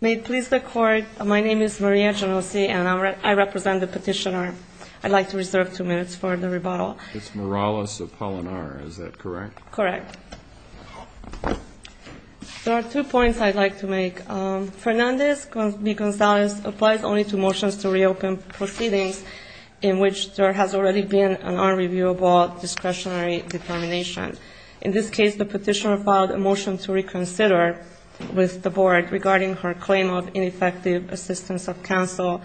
May it please the Court, my name is Maria Genovese and I represent the petitioner. I'd like to reserve two minutes for the rebuttal. It's Morales Apolinar, is that correct? Correct. There are two points I'd like to make. Fernandez v. Gonzalez applies only to motions to reopen proceedings in which there has already been an unreviewable discretionary determination. In this case, the petitioner filed a motion to reconsider with the Board regarding her claim of ineffective assistance of counsel,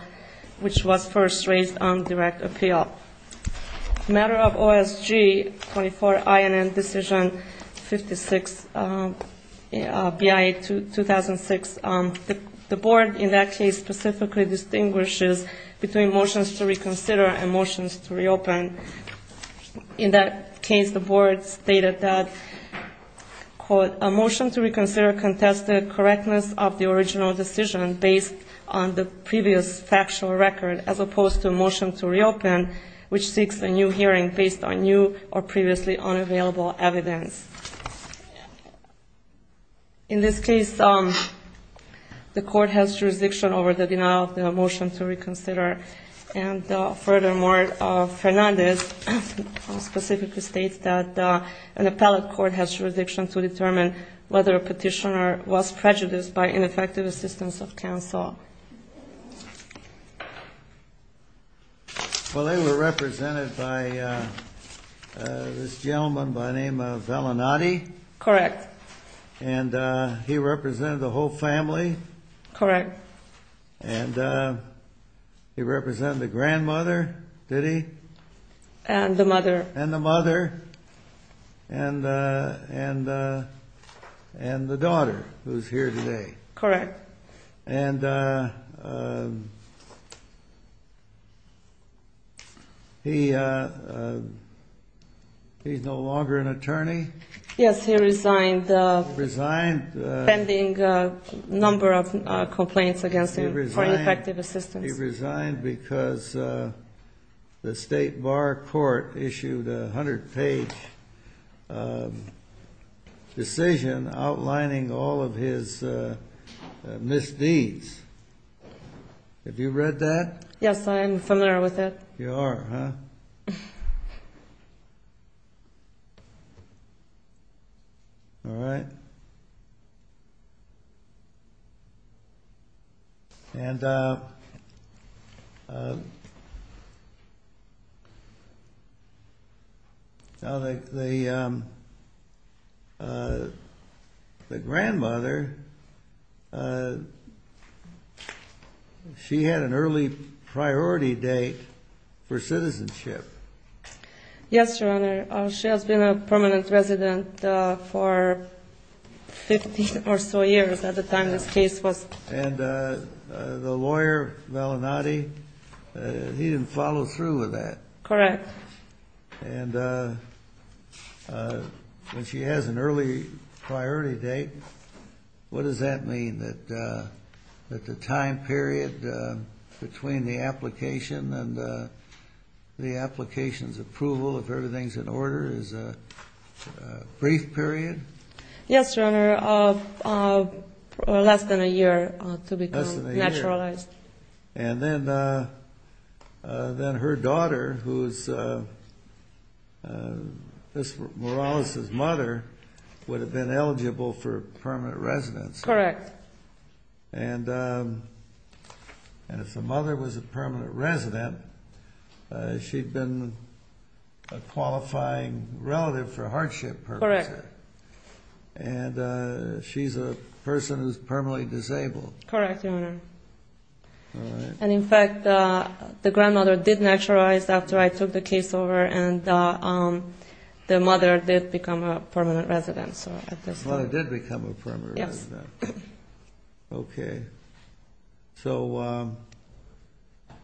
which was first raised on direct appeal. Matter of OSG 24INN Decision 56, BIA 2006, the Board in that case specifically distinguishes between motions to reconsider and motions to reopen. And in that case, the Board stated that, quote, a motion to reconsider contested correctness of the original decision based on the previous factual record, as opposed to a motion to reopen, which seeks a new hearing based on new or previously unavailable evidence. In this case, the Court has jurisdiction over the denial of the motion to reconsider. And furthermore, Fernandez specifically states that an appellate court has jurisdiction to determine whether a petitioner was prejudiced by ineffective assistance of counsel. Well, they were represented by this gentleman by the name of Vellinati. Correct. And he represented the whole family. Correct. And he represented the grandmother, did he? And the mother. And the mother. And the daughter, who's here today. Correct. And he's no longer an attorney? Yes, he resigned. Resigned. Pending a number of complaints against him for ineffective assistance. He resigned because the State Bar Court issued a 100-page decision outlining all of his misdeeds. Have you read that? Yes, I am familiar with it. You are, huh? All right. And the grandmother, she had an early priority date for citizenship. Yes, Your Honor. She has been a permanent resident for 50 or so years at the time this case was. And the lawyer, Vellinati, he didn't follow through with that? Correct. And when she has an early priority date, what does that mean, that the time period between the application and the application's approval, if everything's in order, is a brief period? Yes, Your Honor, less than a year to become naturalized. And then her daughter, who is Morales' mother, would have been eligible for permanent residence. Correct. And if the mother was a permanent resident, she'd been a qualifying relative for hardship purposes. Correct. And she's a person who's permanently disabled. Correct, Your Honor. All right. And, in fact, the grandmother did naturalize after I took the case over, and the mother did become a permanent resident. The mother did become a permanent resident. Yes. Okay. So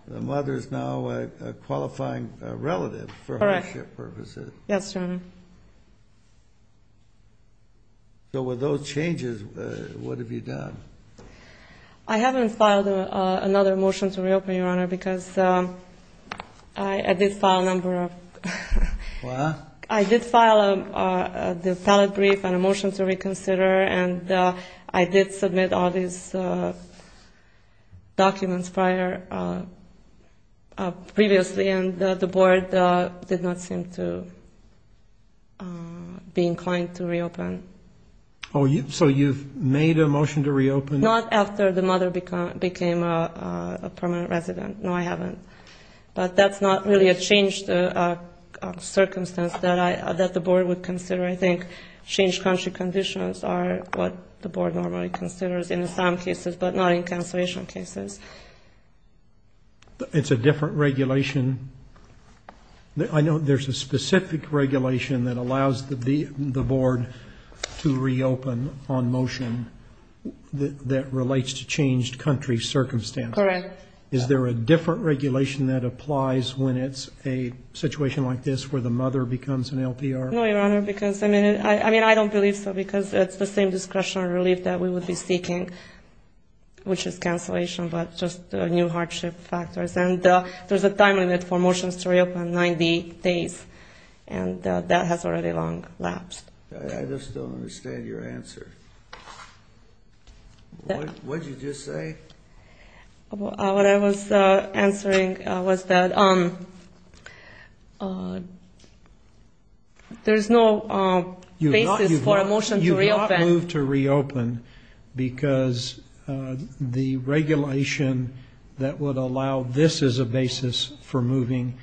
the mother's now a qualifying relative for hardship purposes. Correct. Yes, Your Honor. So with those changes, what have you done? I haven't filed another motion to reopen, Your Honor, because I did file a number of them. What? I did file a ballot brief and a motion to reconsider, and I did submit all these documents previously, and the board did not seem to be inclined to reopen. Oh, so you've made a motion to reopen? Not after the mother became a permanent resident. No, I haven't. But that's not really a change of circumstance that the board would consider. I think changed country conditions are what the board normally considers in some cases, but not in cancellation cases. It's a different regulation. I know there's a specific regulation that allows the board to reopen on motion that relates to changed country circumstances. Correct. Is there a different regulation that applies when it's a situation like this, where the mother becomes an LPR? No, Your Honor, because, I mean, I don't believe so, because it's the same discretionary relief that we would be seeking, which is cancellation, but just new hardship factors. And there's a time limit for motions to reopen, 90 days, and that has already long lapsed. I just don't understand your answer. What did you just say? What I was answering was that there's no basis for a motion to reopen. Because the regulation that would allow this as a basis for moving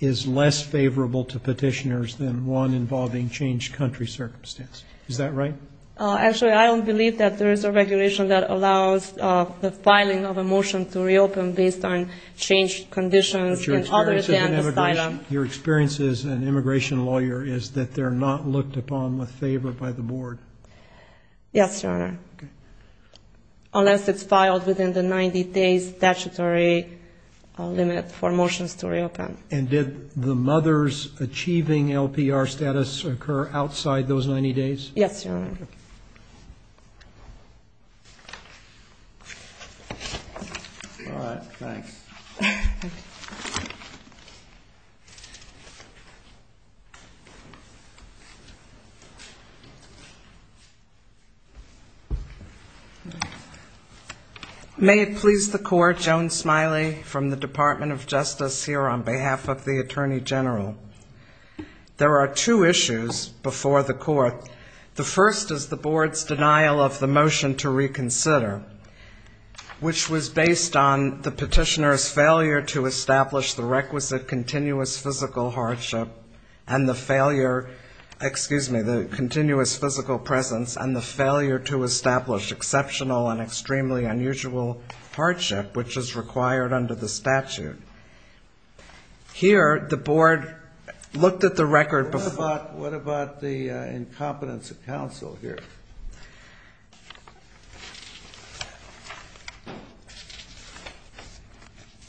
is less favorable to petitioners than one involving changed country circumstances. Is that right? Actually, I don't believe that there is a regulation that allows the filing of a motion to reopen based on changed conditions and other things. Your experience as an immigration lawyer is that they're not looked upon with favor by the board. Yes, Your Honor, unless it's filed within the 90 days statutory limit for motions to reopen. And did the mother's achieving LPR status occur outside those 90 days? Yes, Your Honor. Thank you. May it please the Court, Joan Smiley from the Department of Justice here on behalf of the Attorney General. There are two issues before the Court. The first is the board's denial of the motion to reconsider, which was based on the petitioner's failure to establish the requisite continuous physical hardship and the failure, excuse me, the continuous physical presence and the failure to establish exceptional and extremely unusual hardship, which is required under the statute. Here, the board looked at the record before. What about the incompetence of counsel here?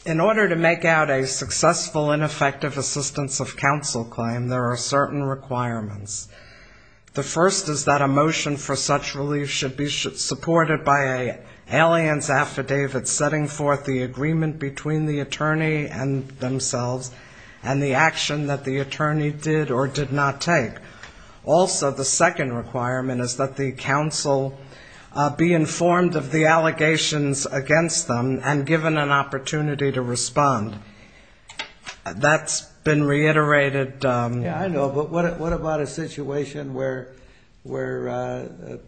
In order to make out a successful and effective assistance of counsel claim, there are certain requirements. The first is that a motion for such relief should be supported by an alien's affidavit setting forth the agreement between the attorney and themselves and the action that the attorney did or did not take. Also, the second requirement is that the counsel be informed of the allegations against them and given an opportunity to respond. That's been reiterated. Yeah, I know, but what about a situation where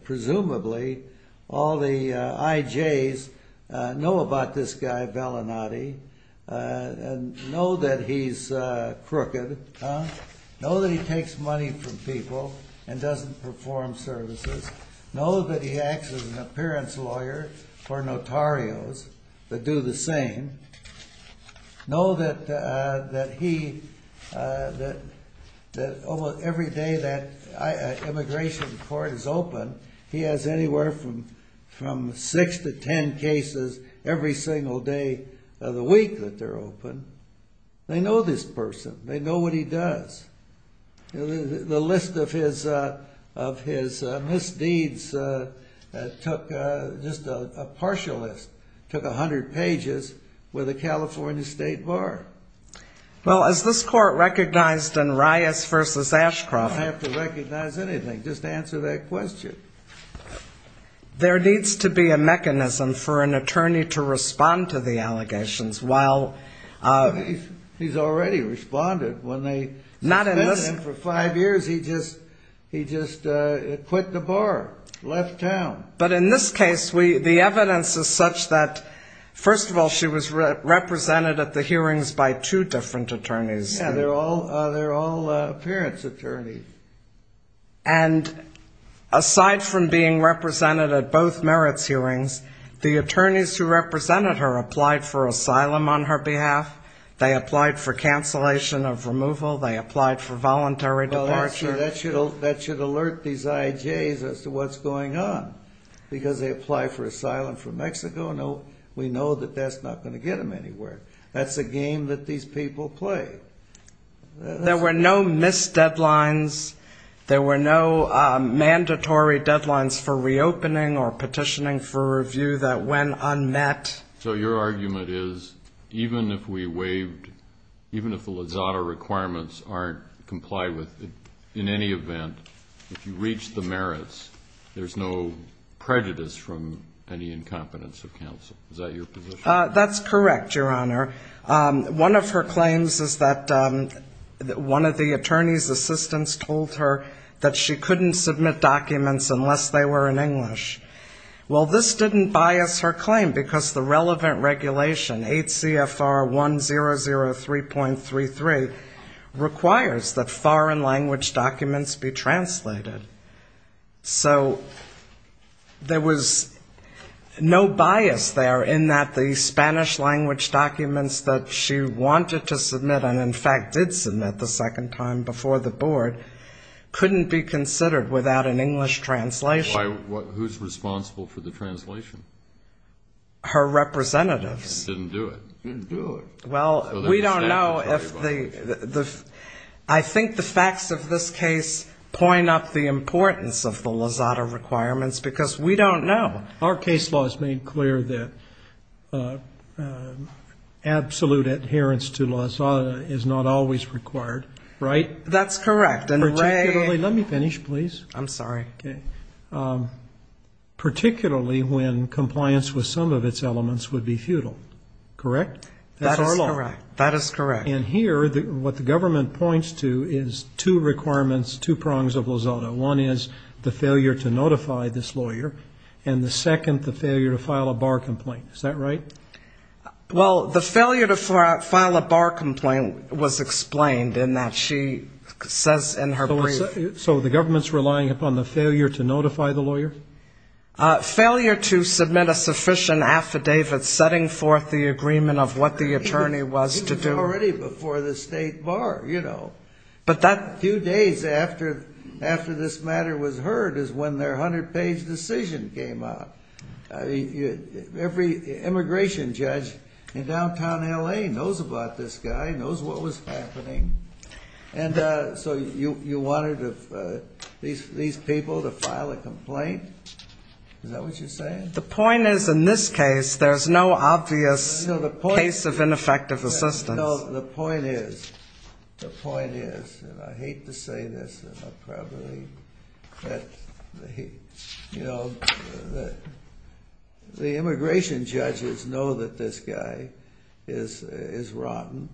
presumably all the IJs know about this guy Vellinati and know that he's crooked, know that he takes money from people and doesn't perform services, know that he acts as an appearance lawyer for notarios that do the same, know that every day that an immigration court is open, he has anywhere from six to ten cases every single day of the week. The week that they're open, they know this person, they know what he does. The list of his misdeeds took just a partial list, took 100 pages with a California state bar. Well, as this court recognized in Rias v. Ashcroft... You don't have to recognize anything, just answer that question. There needs to be a mechanism for an attorney to respond to the allegations while... He's already responded. When they suspended him for five years, he just quit the bar, left town. But in this case, the evidence is such that, first of all, she was represented at the hearings by two different attorneys. Yeah, they're all appearance attorneys. And aside from being represented at both merits hearings, the attorneys who represented her applied for asylum on her behalf, they applied for cancellation of removal, they applied for voluntary departure. Well, that should alert these IJs as to what's going on. Because they apply for asylum from Mexico, we know that that's not going to get them anywhere. That's a game that these people play. There were no missed deadlines, there were no mandatory deadlines for reopening or petitioning for review that went unmet. So your argument is, even if we waived... comply with, in any event, if you reach the merits, there's no prejudice from any incompetence of counsel. Is that your position? That's correct, Your Honor. One of her claims is that one of the attorney's assistants told her that she couldn't submit documents unless they were in English. Well, this didn't bias her claim, because the relevant regulation, 8 CFR 1003.33, requires that foreign language documents be translated. So there was no bias there in that the Spanish language documents that she wanted to submit, and in fact did submit the second time before the board, couldn't be considered without an English translation. Who's responsible for the translation? Her representatives. Didn't do it. Didn't do it. I think the facts of this case point up the importance of the Lozada requirements, because we don't know. Our case law has made clear that absolute adherence to Lozada is not always required, right? That's correct. Particularly when compliance with some of its elements would be futile, correct? That is correct. And here, what the government points to is two requirements, two prongs of Lozada. One is the failure to notify this lawyer, and the second, the failure to file a bar complaint. Is that right? Well, the failure to file a bar complaint was explained in that she says in her brief So the government's relying upon the failure to notify the lawyer? Failure to submit a sufficient affidavit setting forth the agreement of what the attorney was to do. Before the state bar, you know. But that few days after this matter was heard is when their 100-page decision came out. Every immigration judge in downtown L.A. knows about this guy, knows what was happening. And so you wanted these people to file a complaint? Is that what you're saying? The point is, in this case, there's no obvious case of ineffective assistance. The point is, and I hate to say this, the immigration judges know that this guy is rotten.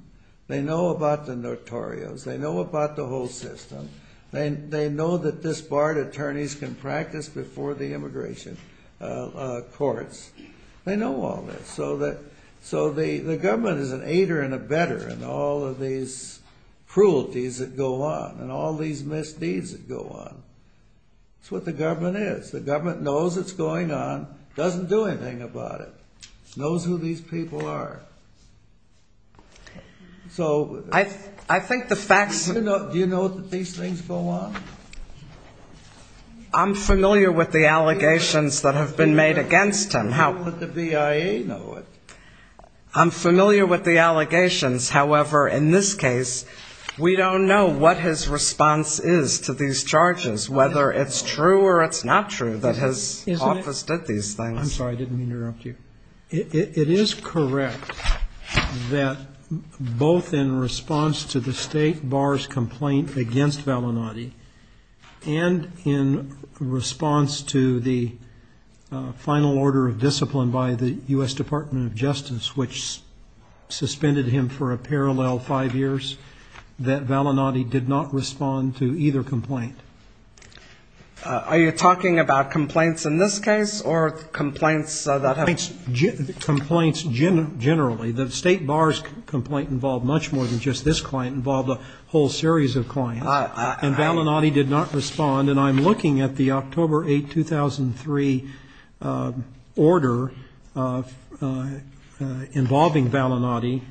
They know about the notorious. They know about the whole system. They know that this barred attorneys can practice before the immigration courts. They know all this. So the government is an aider and a better in all of these cruelties that go on, and all these misdeeds that go on. That's what the government is. The government knows what's going on, doesn't do anything about it, knows who these people are. Do you know that these things go on? I'm familiar with the allegations that have been made against him. How could the BIA know it? I'm familiar with the allegations. However, in this case, we don't know what his response is to these charges, whether it's true or it's not true that his office did these things. I'm sorry. I didn't mean to interrupt you. It is correct that both in response to the state bar's complaint against Valinati and in response to the final order of discipline by the U.S. Department of Justice, which suspended him for a parallel five years, that Valinati did not respond to either complaint. Are you talking about complaints in this case or complaints that have been made? Complaints generally. The state bar's complaint involved much more than just this client. It involved a whole series of clients. And Valinati did not respond. And I'm looking at the October 8, 2003 order involving Valinati,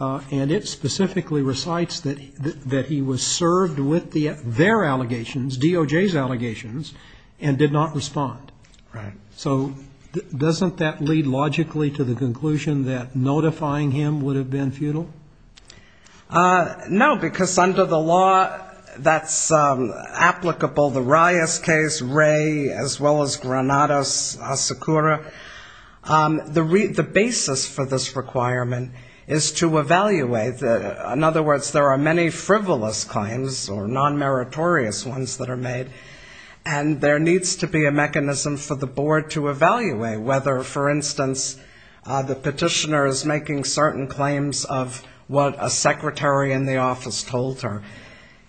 and it specifically recites that he was served with their allegations, DOJ's allegations, and did not respond. So doesn't that lead logically to the conclusion that notifying him would have been futile? No, because under the law, that's applicable. The Rias case, Ray, as well as Granados, Asakura. The basis for this requirement is to evaluate. In other words, there are many frivolous claims or nonmeritorious ones that are made, and there needs to be a mechanism for the board to evaluate whether, for instance, the petitioner is making certain claims of what a secretary in the office told her.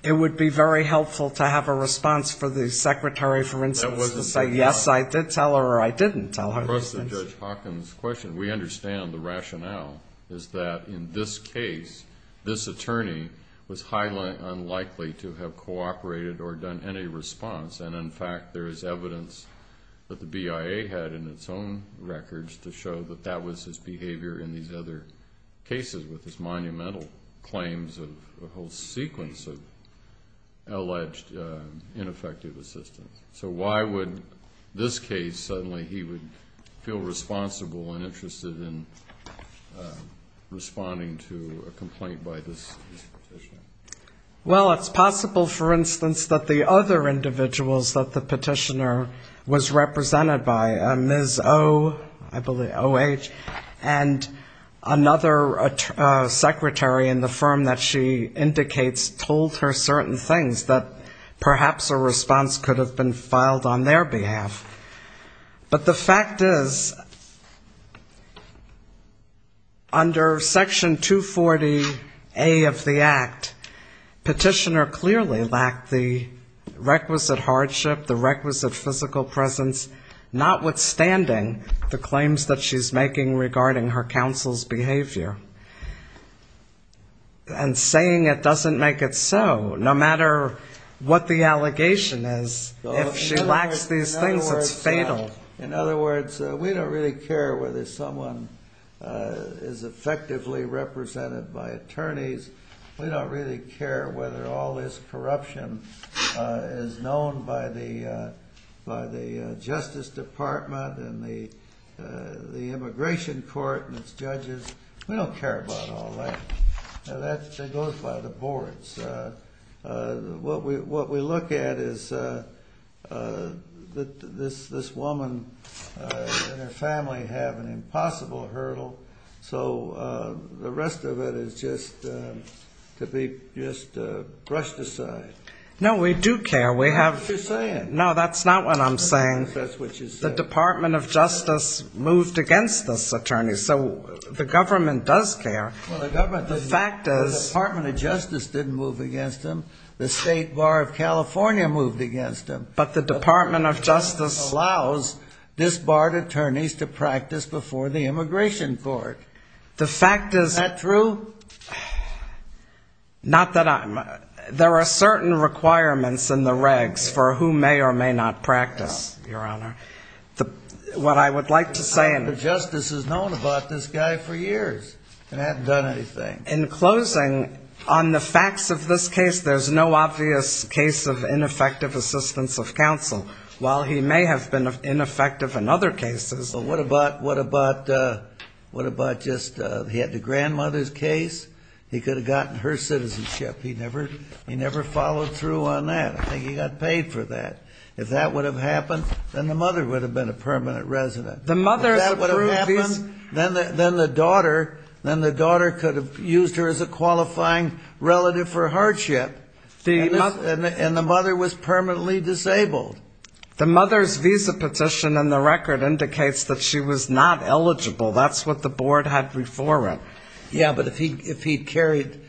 It would be very helpful to have a response for the secretary, for instance, to say, yes, I did tell her or I didn't tell her. Across Judge Hawkins' question, we understand the rationale is that in this case, this attorney was highly unlikely to have cooperated or done any response. And in fact, there is evidence that the BIA had in its own records to show that that was his behavior in these other cases with his monumental claims of a whole sequence of alleged ineffective assistance. So why would this case suddenly he would feel responsible and interested in responding to a complaint by this petitioner? Well, it's possible, for instance, that the other individuals that the petitioner was represented by, Ms. O, I believe, O.H., and another secretary in the firm that she indicates told her certain things that perhaps a response could have been filed on their behalf. But the fact is, under Section 240A of the Act, petitioner clearly lacked the requisite hardship, the requisite physical presence, notwithstanding the claims that she's making regarding her counsel's behavior. And saying it doesn't make it so, no matter what the allegation is. If she lacks these things, it's fatal. In other words, we don't really care whether someone is effectively represented by attorneys. We don't really care whether all this corruption is known by the Justice Department and the immigration court and its judges. We don't care about all that. That goes by the boards. What we look at is this woman and her family have an impossible hurdle, so the rest of it is just to be brushed aside. No, we do care. No, that's not what I'm saying. The Department of Justice moved against this attorney, so the government does care. The Department of Justice didn't move against him. The State Bar of California moved against him. But the Department of Justice allows disbarred attorneys to practice before the immigration court. Is that true? There are certain requirements in the regs for who may or may not practice, Your Honor. What I would like to say in closing, on the facts of this case, there's no obvious case of ineffective assistance of counsel. While he may have been ineffective in other cases, what about just he had the grandmother's case, he could have gotten her citizenship. He never followed through on that. I think he got paid for that. If that would have happened, then the mother would have been a permanent resident. If that would have happened, then the daughter could have used her as a qualifying relative for hardship, and the mother was permanently disabled. The mother's visa petition in the record indicates that she was not eligible. That's what the board had before it. Yeah, but if he carried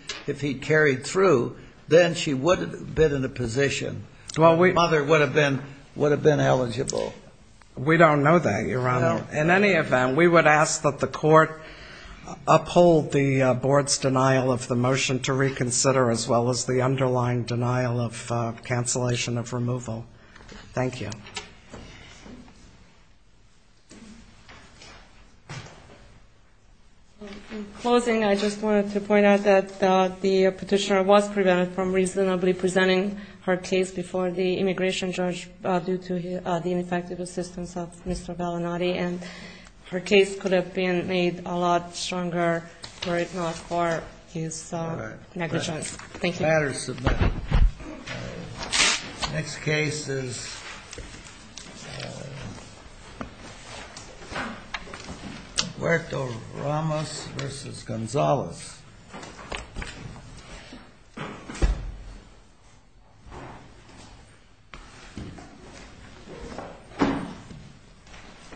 through, then she would have been in a position. The mother would have been eligible. We don't know that, Your Honor. In any event, we would ask that the court uphold the board's denial of the motion to reconsider, as well as the underlying denial of cancellation of removal. In closing, I just wanted to point out that the Petitioner was prevented from reasonably presenting her case before the immigration judge due to the ineffective assistance of Mr. Bellinati, and her case could have been made a lot stronger, were it not for his negligence. Thank you. The matter is submitted. The next case is Huerto Ramos v. Gonzalez.